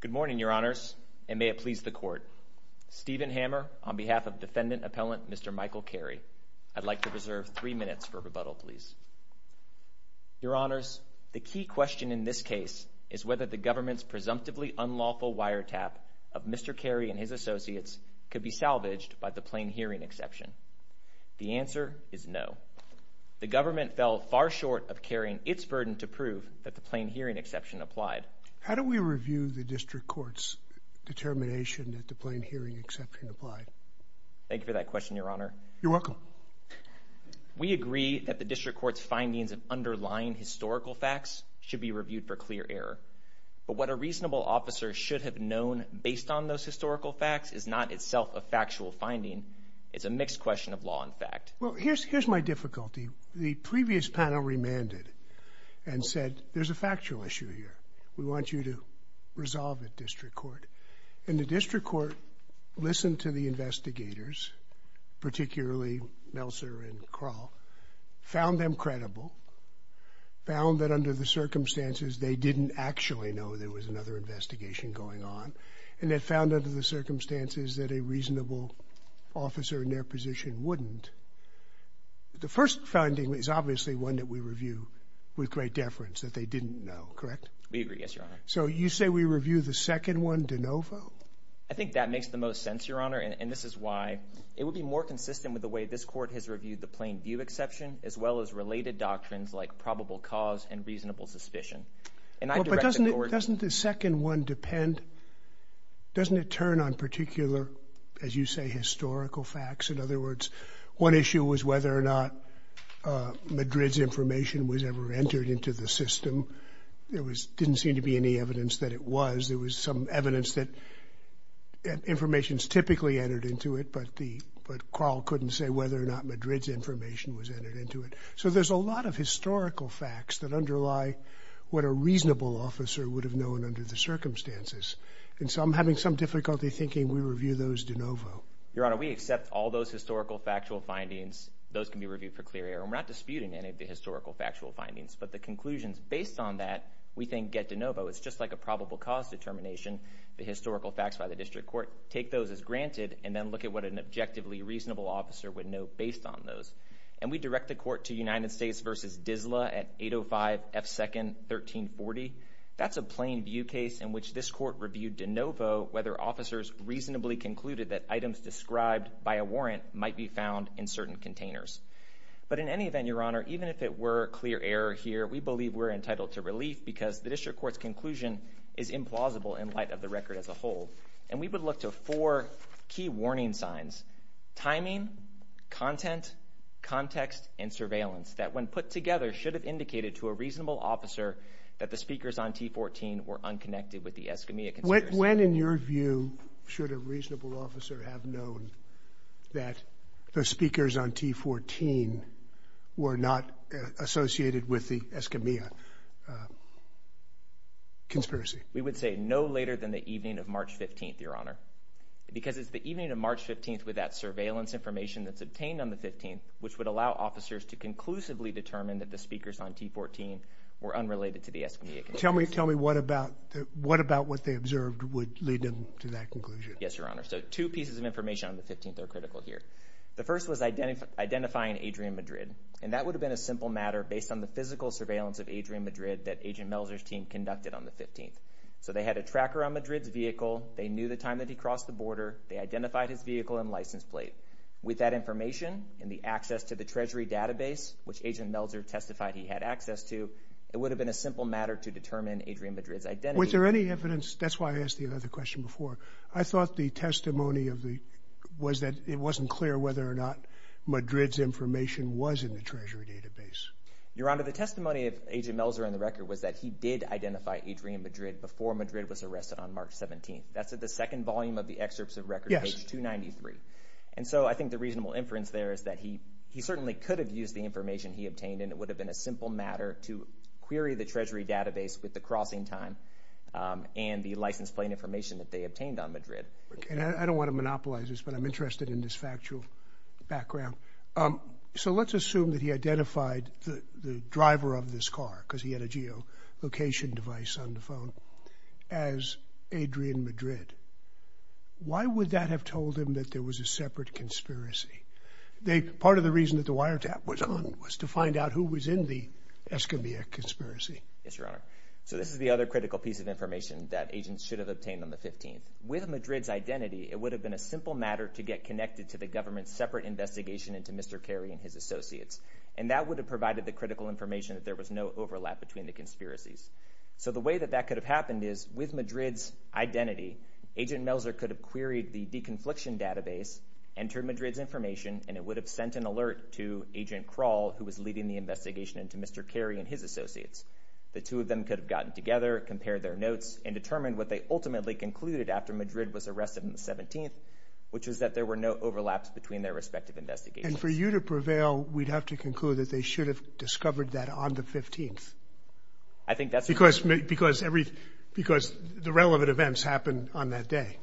Good morning, Your Honors, and may it please the Court. Stephen Hammer on behalf of Defendant Appellant Mr. Michael Carey. I'd like to reserve three minutes for rebuttal, please. Your Honors, the key question in this case is whether the government's presumptively unlawful wiretap of Mr. Carey and his associates could be salvaged by the plain hearing exception. The answer is no. The government fell far short of carrying its burden to prove that the plain hearing exception applied. How do we review the District Court's determination that the plain hearing exception applied? Thank you for that question, Your Honor. You're welcome. We agree that the District Court's findings of underlying historical facts should be reviewed for clear error. But what a reasonable officer should have known based on those historical facts is not itself a factual finding. It's a mixed question of law and fact. Well, here's my difficulty. The previous panel remanded and said, there's a factual issue here. We want you to resolve it, District Court. And the District Court listened to the investigators, particularly Melser and Kroll, found them credible, found that under the circumstances they didn't actually know there was another investigation going on, and they found under the circumstances that a reasonable officer in their position wouldn't. The first finding is obviously one that we review with great deference, that they didn't know, correct? We agree, yes, Your Honor. So you say we review the second one de novo? I think that makes the most sense, Your Honor, and this is why it would be more consistent with the way this Court has reviewed the plain view exception as well as related doctrines like probable cause and reasonable suspicion. But doesn't the second one depend, doesn't it turn on particular, as you say, historical facts? In other words, one issue was whether or not Madrid's information was ever entered into the system. There didn't seem to be any evidence that it was. There was some evidence that information is typically entered into it, but Kroll couldn't say whether or not Madrid's information was entered into it. So there's a lot of historical facts that underlie what a reasonable officer would have known under the circumstances, and so I'm having some difficulty thinking we review those de novo. Your Honor, we accept all those historical factual findings. Those can be reviewed for clear error. We're not disputing any of the historical factual findings, but the conclusions based on that we think get de novo. It's just like a probable cause determination, the historical facts by the District Court. Take those as granted and then look at what an objectively reasonable officer would know based on those. And we direct the court to United States v. Disla at 805 F. 2nd, 1340. That's a plain view case in which this court reviewed de novo whether officers reasonably concluded that items described by a warrant might be found in certain containers. But in any event, Your Honor, even if it were clear error here, we believe we're entitled to relief because the District Court's conclusion is implausible in light of the record as a whole. And we would look to four key warning signs, timing, content, context and surveillance, that when put together should have indicated to a reasonable officer that the speakers on T-14 were unconnected with the Escamilla conspiracy. When, in your view, should a reasonable officer have known that the speakers on T-14 were not associated with the Escamilla conspiracy? We would say no later than the evening of March 15th, Your Honor, because it's the evening of March 15th with that surveillance information that's obtained on the 15th, which would allow officers to conclusively determine that the speakers on T-14 were unrelated to the Escamilla conspiracy. Tell me what about what they observed would lead them to that conclusion. Yes, Your Honor. So two pieces of information on the Adrian Madrid, and that would have been a simple matter based on the physical surveillance of Adrian Madrid that Agent Melzer's team conducted on the 15th. So they had a tracker on Madrid's vehicle, they knew the time that he crossed the border, they identified his vehicle and license plate. With that information and the access to the Treasury database, which Agent Melzer testified he had access to, it would have been a simple matter to determine Adrian Madrid's identity. Was there any evidence, that's why I asked you another question before, I thought the testimony was that it wasn't clear whether or not Madrid's information was in the Treasury database. Your Honor, the testimony of Agent Melzer on the record was that he did identify Adrian Madrid before Madrid was arrested on March 17th. That's at the second volume of the excerpts of record, page 293. And so I think the reasonable inference there is that he certainly could have used the information he obtained and it would have been a simple matter to query the Treasury database with the crossing time and the license plate information that they obtained on Madrid. I don't want to monopolize this, but I'm interested in this factual background. So let's assume that he identified the driver of this car, because he had a geolocation device on the phone, as Adrian Madrid. Why would that have told him that there was a separate conspiracy? Part of the reason that the wiretap was on was to find out who was in the Escambia conspiracy. Yes, Your Honor. So this is the other critical piece of information that agents should have obtained on the 15th. With Madrid's identity, it would have been a simple matter to get connected to the government's separate investigation into Mr. Carey and his associates. And that would have provided the critical information that there was no overlap between the conspiracies. So the way that that could have happened is, with Madrid's identity, Agent Melzer could have queried the de-confliction database, entered Madrid's information, and it would have sent an alert to Agent Kral, who was leading the investigation into Mr. Carey and his associates. The two of them could have gotten together, compared their notes, and determined what they ultimately concluded after Madrid was arrested on the 17th, which is that there were no overlaps between their respective investigations. And for you to prevail, we'd have to conclude that they should have discovered that on the 15th. I think that's... Because the relevant events happened on that day.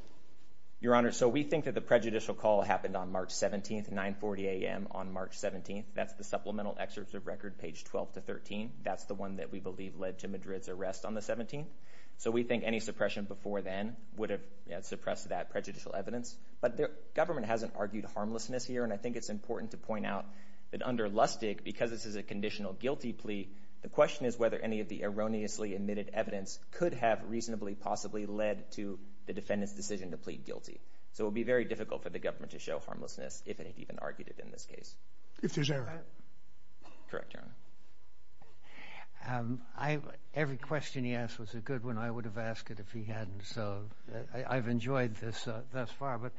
Your Honor, so we think that the prejudicial call happened on March 17th, 9.40 a.m. on March 17th. That's the supplemental excerpt of record, page 12 to 13. That's the one that we believe led to Madrid's arrest on the 17th. So we think any suppression before then would have suppressed that prejudicial evidence. But the government hasn't argued harmlessness here, and I think it's important to point out that under Lustig, because this is a conditional guilty plea, the question is whether any of the erroneously admitted evidence could have reasonably possibly led to the defendant's decision to plead guilty. So it would be very difficult for the government to show harmlessness if it had even argued it in this case. If there's error. Correct, Your Honor. Every question he asked was a good one. I would have asked it if he hadn't. So I've enjoyed this thus far. But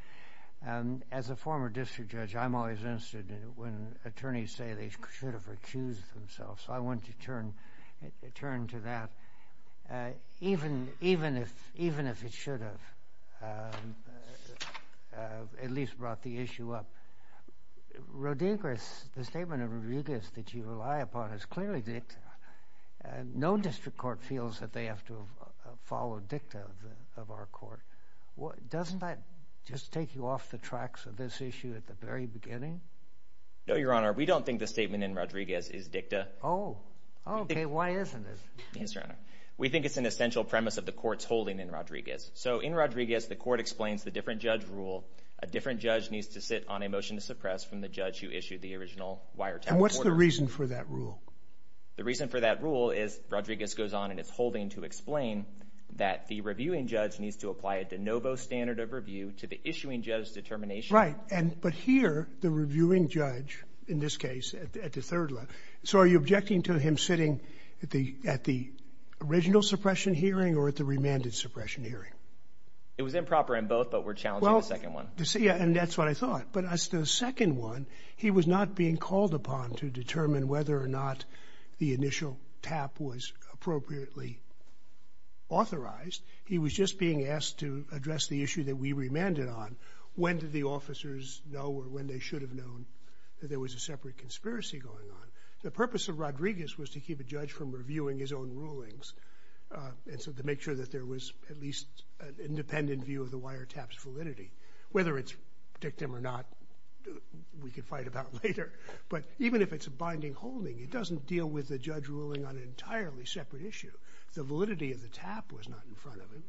as a former district judge, I'm always interested in it when attorneys say they should have recused themselves. So I want to turn to that. Even if it should have at least brought the issue up. Rodriguez, the statement of Rodriguez that you rely upon is clearly dicta. No district court feels that they have to follow dicta of our court. Doesn't that just take you off the tracks of this issue at the very beginning? No, Your Honor. We don't think the statement in Rodriguez is dicta. Oh, okay. Why isn't it? Yes, Your Honor. We think it's an essential premise of the court's holding in Rodriguez. So in Rodriguez, the court explains the different judge needs to sit on a motion to suppress from the judge who issued the original wiretap order. And what's the reason for that rule? The reason for that rule is Rodriguez goes on and is holding to explain that the reviewing judge needs to apply a de novo standard of review to the issuing judge's determination. Right. But here, the reviewing judge in this case at the third law. So are you objecting to him sitting at the original suppression hearing or at the remanded suppression hearing? It was improper in both, but we're challenging the second one. Yeah, and that's what I thought. But as the second one, he was not being called upon to determine whether or not the initial tap was appropriately authorized. He was just being asked to address the issue that we remanded on. When did the officers know or when they should have known that there was a separate conspiracy going on? The purpose of Rodriguez was to keep a judge from reviewing his own rulings. And so to make sure that there was at least an independent view of the wiretaps validity, whether it's dictum or not, we could fight about later. But even if it's a binding holding, it doesn't deal with the judge ruling on an entirely separate issue. The validity of the tap was not in front of him.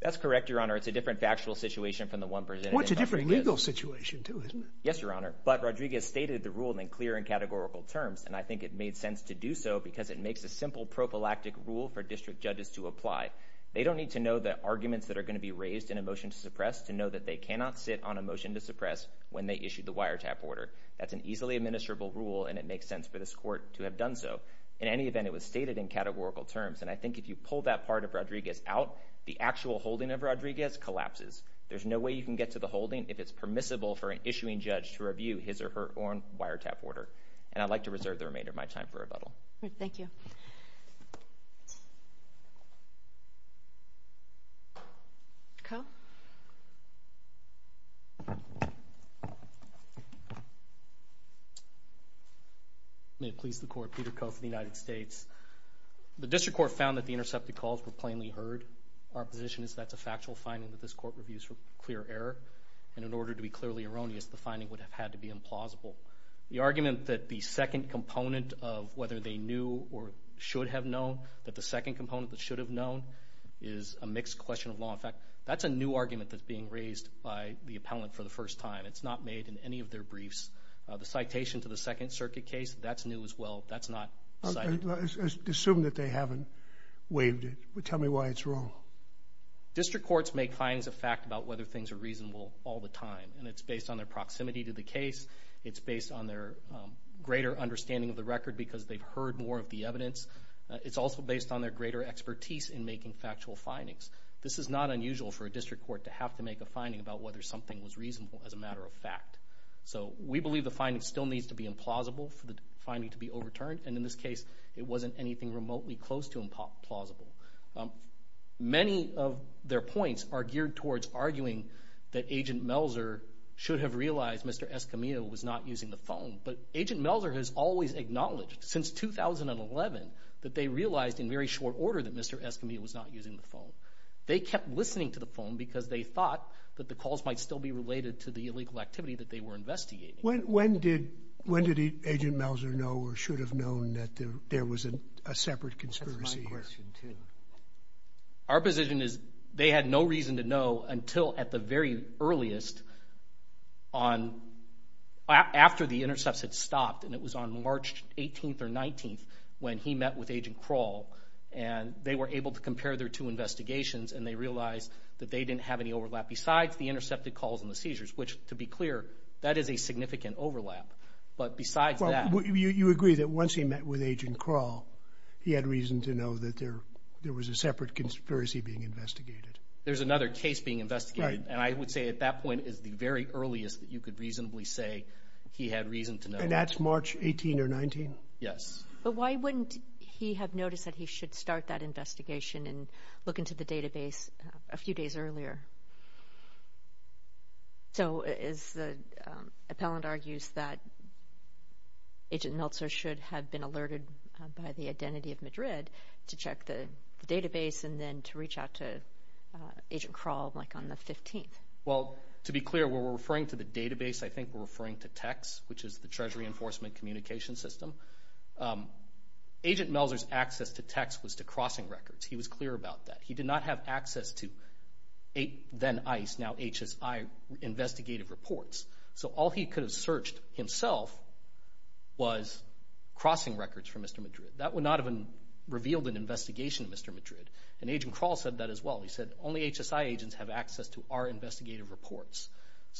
That's correct, Your Honor. It's a different factual situation from the one presented. It's a different legal situation too, isn't it? Yes, Your Honor. But Rodriguez stated the rule in clear and categorical terms. And I think it made sense to do so because it makes a simple prophylactic rule for district judges to apply. They don't need to know the arguments that are going to be raised in a motion to suppress to know that they cannot sit on a motion to suppress when they issue the wiretap order. That's an easily administrable rule and it makes sense for this court to have done so. In any event, it was stated in categorical terms. And I think if you pull that part of Rodriguez out, the actual holding of Rodriguez collapses. There's no way you can get to the holding if it's permissible for an issuing judge to review his or her own wiretap order. And I'd like to reserve the remainder of my time for questions. Thank you. Coe? May it please the Court, Peter Coe for the United States. The district court found that the intercepted calls were plainly heard. Our position is that's a factual finding that this court reviews for clear error. And in order to be clearly erroneous, the finding would have had to be implausible. The argument that the second component of whether they knew or should have known, that the second component that should have known, is a mixed question of law. In fact, that's a new argument that's being raised by the appellant for the first time. It's not made in any of their briefs. The citation to the Second Circuit case, that's new as well. That's not cited. Assume that they haven't waived it. Tell me why it's wrong. District courts make findings of fact about whether things are reasonable all the time. And it's based on their proximity to the case. It's based on their greater understanding of the record because they've heard more of the evidence. It's also based on their greater expertise in making factual findings. This is not unusual for a district court to have to make a finding about whether something was reasonable as a matter of fact. So we believe the finding still needs to be implausible for the finding to be overturned. And in this case, it wasn't anything remotely close to implausible. Many of their points are geared towards arguing that Agent Melzer should have realized Mr. Escamillo was not using the phone. But Agent Melzer has always acknowledged since 2011 that they realized in very short order that Mr. Escamillo was not using the phone. They kept listening to the phone because they thought that the calls might still be related to the illegal activity that they were investigating. When did Agent Melzer know or should have known that there was a separate conspiracy here? Our position is they had no reason to know until at the very earliest on, after the intercepts had stopped and it was on March 18th or 19th when he met with Agent Kroll and they were able to compare their two investigations and they realized that they didn't have any overlap besides the intercepted calls and the seizures, which to be clear that is a significant overlap. But besides that... You agree that once he met with Agent Kroll, he had reason to know that there was a separate conspiracy being investigated. There's another case being investigated and I would say at that point is the very earliest that you could reasonably say he had reason to know. And that's March 18th or 19th? Yes. But why wouldn't he have noticed that he should start that investigation and look into the database a few days earlier? So as the appellant argues that Agent Melzer should have been alerted by the identity of Madrid to check the database and then to reach out to Agent Kroll like on the 15th. Well, to be clear, when we're referring to the database, I think we're referring to TECS, which is the Treasury Enforcement Communication System. Agent Melzer's access to TECS was to crossing records. He was clear about that. He did not have access to then ICE, now HSI, investigative reports. So all he could have searched himself was crossing records from Mr. Madrid. That would not have revealed an investigation of Mr. Madrid. And Agent Kroll said that as well. He said, only HSI agents have access to our investigative reports.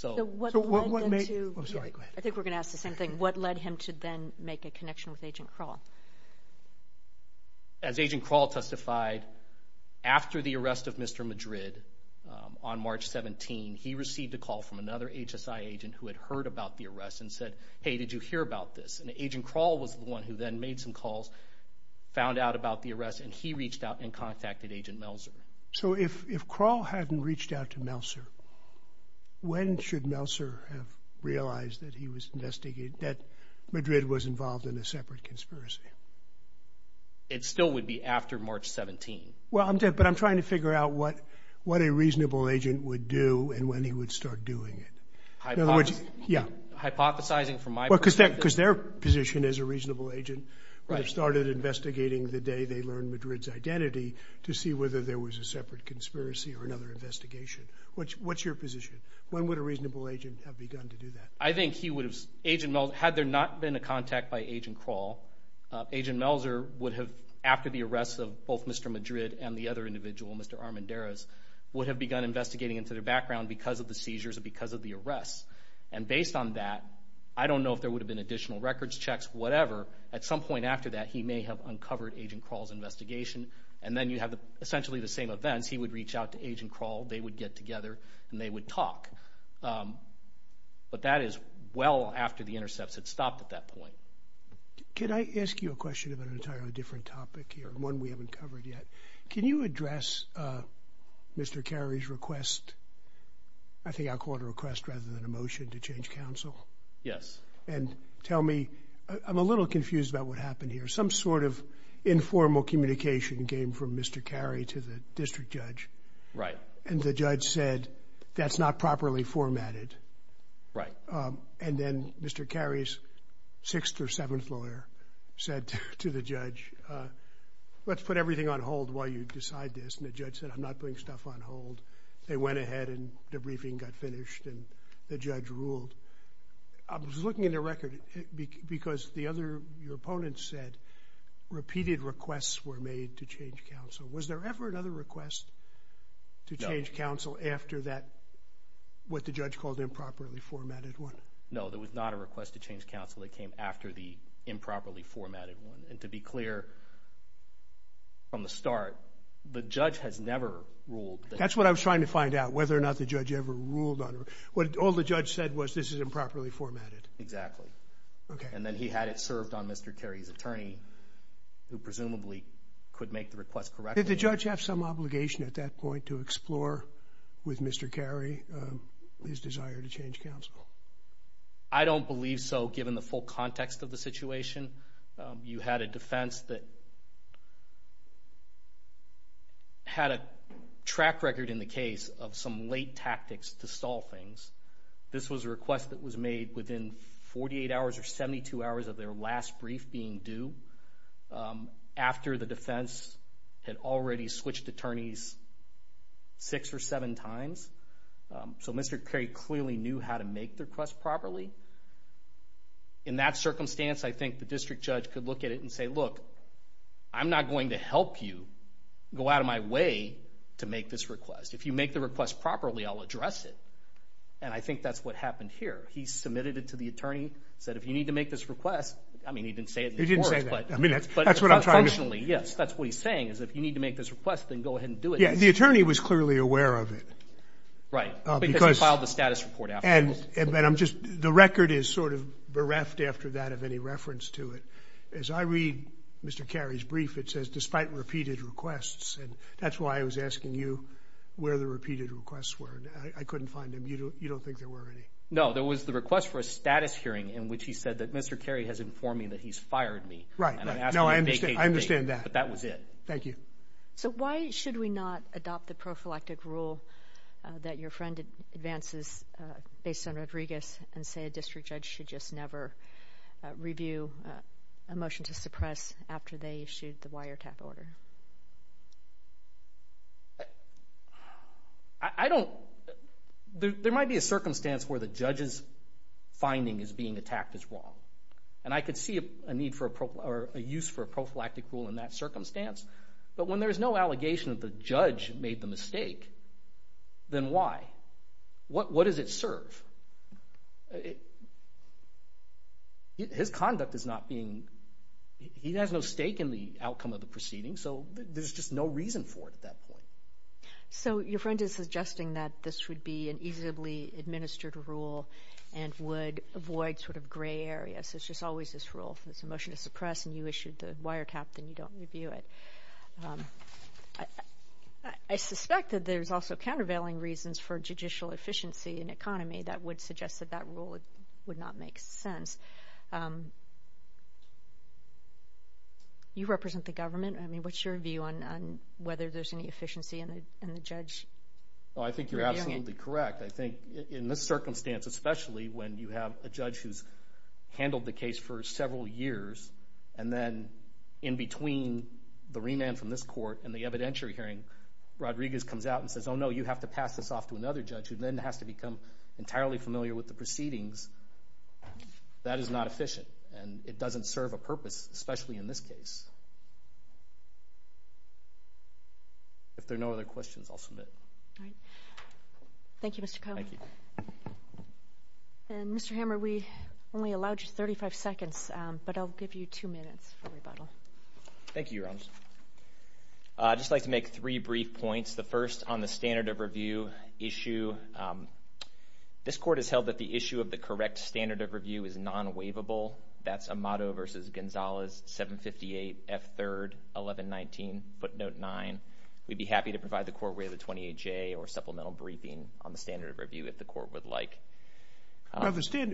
I think we're going to ask the same thing. What led him to then make a connection with Agent Kroll? As Agent Kroll testified, after the arrest of Mr. Madrid on March 17th, he received a call from another HSI agent who had heard about the arrest and said, hey, did you hear about this? And Agent Kroll was the one who then made some calls, found out about the arrest, and he reached out and contacted Agent Melzer. So if Kroll hadn't reached out to Melzer, when should Melzer have realized that he was investigating, that Madrid was involved in a separate conspiracy? It still would be after March 17th. But I'm trying to figure out what a reasonable agent would do and when he would start doing it. Hypothesizing from my perspective? Well, because their position as a reasonable agent would have started investigating the day they learned Madrid's identity to see whether there was a separate conspiracy or another investigation. What's your position? When would a reasonable agent have begun to do that? I think he would have, Agent Melzer, had there not been a contact by Agent Kroll, Agent Melzer would have, after the arrest of both Mr. Madrid and the other individual, Mr. Armendariz, would have begun investigating into their background because of the seizures or because of the arrests. And based on that, I don't know if there would have been additional records checks, whatever. At some point after that, he may have uncovered Agent Kroll's investigation, and then you have essentially the same events. He would reach out to Agent Kroll, they would get together, and they would talk. But that is well after the intercepts had stopped at that point. Could I ask you a question about an entirely different topic here, one we haven't covered yet? Can you address Mr. Carey's request? I think I'll call it a request rather than a motion to change counsel. Yes. And tell me, I'm a little confused about what happened here. Some sort of informal communication came from Mr. Carey to the district judge. Right. And the judge said, that's not properly formatted. Right. And then Mr. Carey's sixth or seventh lawyer said to the judge, let's put everything on hold while you decide this. And the judge said, I'm not putting stuff on hold. They went ahead and the briefing got finished and the judge ruled. I was looking at the record because the other, your opponent said, repeated requests were made to change counsel. Was there ever another request to change counsel after that, what the judge called improperly formatted one? No, there was not a request to change counsel. It came after the improperly formatted one. And to be clear, from the start, the judge has never ruled. That's what I was trying to find out, whether or not the judge ever ruled on it. All the judge said was, this is improperly formatted. Exactly. Okay. And then he had it served on Mr. Carey's attorney, who presumably could make the request correctly. Did the judge have some obligation at that point to explore with Mr. Carey his desire to change counsel? I don't believe so, given the full context of the situation. You had a defense that had a track record in the case of some late tactics to stall things. This was a request that was made within 48 hours or 72 hours of their last brief being due, after the defense had already switched attorneys six or seven times. So Mr. Carey clearly knew how to make the request properly. In that circumstance, I think the district judge could look at it and say, look, I'm not going to help you go out of my way to make this request. If you make the request properly, I'll address it. And I think that's what happened here. He submitted it to the attorney, said, if you need to make this request. I mean, he didn't say it in the court. He didn't say that. I mean, that's what I'm trying to do. Functionally, yes, that's what he's saying, is if you need to make this request, then go ahead and do it. Yeah, the attorney was clearly aware of it. Right, because he filed the status report afterwards. The record is sort of bereft after that of any reference to it. As I read Mr. Carey's brief, it says, despite repeated requests. And that's why I was asking you where the repeated requests were. I couldn't find them. You don't think there were any? No, there was the request for a status hearing in which he said that Mr. Carey has informed me that he's fired me. Right. No, I understand that. But that was it. Thank you. Thank you. So why should we not adopt the prophylactic rule that your friend advances based on Rodriguez and say a district judge should just never review a motion to suppress after they issued the wiretap order? I don't – there might be a circumstance where the judge's finding is being attacked as wrong. And I could see a need for a – or a use for a prophylactic rule in that circumstance. But when there's no allegation that the judge made the mistake, then why? What does it serve? His conduct is not being – he has no stake in the outcome of the proceeding, so there's just no reason for it at that point. So your friend is suggesting that this would be an easily administered rule and would avoid sort of gray areas. So it's just always this rule. If there's a motion to suppress and you issued the wiretap, then you don't review it. I suspect that there's also countervailing reasons for judicial efficiency in economy that would suggest that that rule would not make sense. You represent the government. I mean, what's your view on whether there's any efficiency in the judge reviewing it? Well, I think you're absolutely correct. I think in this circumstance, especially when you have a judge who's handled the case for several years, and then in between the remand from this court and the evidentiary hearing, Rodriguez comes out and says, oh, no, you have to pass this off to another judge, who then has to become entirely familiar with the proceedings. That is not efficient, and it doesn't serve a purpose, especially in this case. If there are no other questions, I'll submit. Thank you, Mr. Cohen. Thank you. And, Mr. Hammer, we only allowed you 35 seconds, but I'll give you two minutes for rebuttal. Thank you, Your Honors. I'd just like to make three brief points. The first on the standard of review issue, this court has held that the issue of the correct standard of review is non-waivable. That's Amato v. Gonzalez, 758 F. 3rd, 1119, footnote 9. We'd be happy to provide the court with a 28-J or supplemental briefing on the standard of review if the court would like.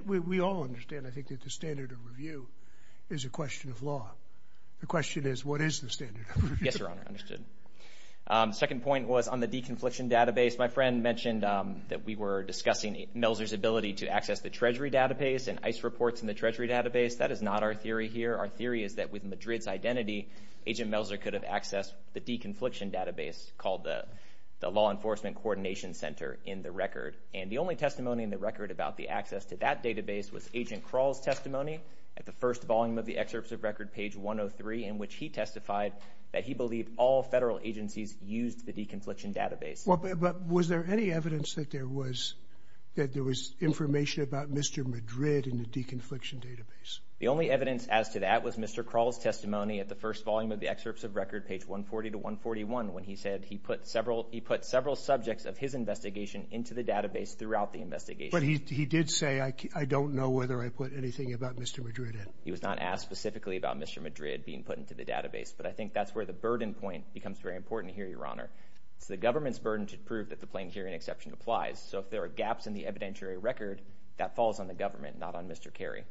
We all understand, I think, that the standard of review is a question of law. The question is, what is the standard of review? Yes, Your Honor, understood. The second point was on the de-confliction database. My friend mentioned that we were discussing Melser's ability to access the Treasury database and ICE reports in the Treasury database. That is not our theory here. Our theory is that with Madrid's identity, Agent Melser could have accessed the de-confliction database called the Law Enforcement Coordination Center in the record. And the only testimony in the record about the access to that database was Agent Kral's testimony at the first volume of the excerpts of record, page 103, in which he testified that he believed all federal agencies used the de-confliction database. But was there any evidence that there was information about Mr. Madrid in the de-confliction database? The only evidence as to that was Mr. Kral's testimony at the first volume of the excerpts of record, page 140 to 141, when he said he put several subjects of his investigation into the database throughout the investigation. But he did say, I don't know whether I put anything about Mr. Madrid in. He was not asked specifically about Mr. Madrid being put into the database. But I think that's where the burden point becomes very important here, Your Honor. It's the government's burden to prove that the plain hearing exception applies. So if there are gaps in the evidentiary record, that falls on the government, not on Mr. Kerry.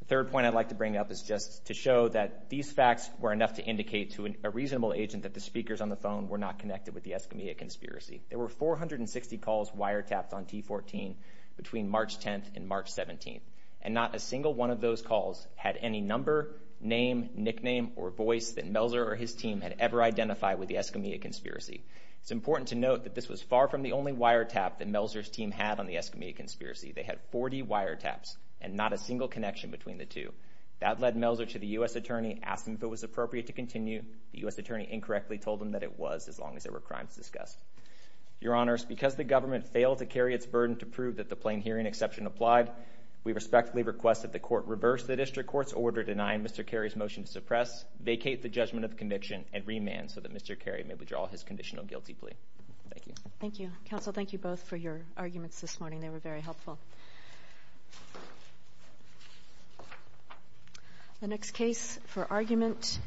The third point I'd like to bring up is just to show that these facts were enough to indicate to a reasonable agent that the speakers on the phone were not connected with the Escamilla conspiracy. There were 460 calls wiretapped on T14 between March 10th and March 17th, and not a single one of those calls had any number, name, nickname, or voice that Melzer or his team had ever identified with the Escamilla conspiracy. It's important to note that this was far from the only wiretap that Melzer's team had on the Escamilla conspiracy. They had 40 wiretaps and not a single connection between the two. That led Melzer to the U.S. attorney, asked him if it was appropriate to continue. The U.S. attorney incorrectly told him that it was as long as there were crimes discussed. Your Honors, because the government failed to carry its burden to prove that the plain hearing exception applied, we respectfully request that the court reverse the district court's order denying Mr. Kerry's motion to suppress, vacate the judgment of conviction, and remand so that Mr. Kerry may withdraw his conditional guilty plea. Thank you. Thank you. Counsel, thank you both for your arguments this morning. They were very helpful. The next case for argument...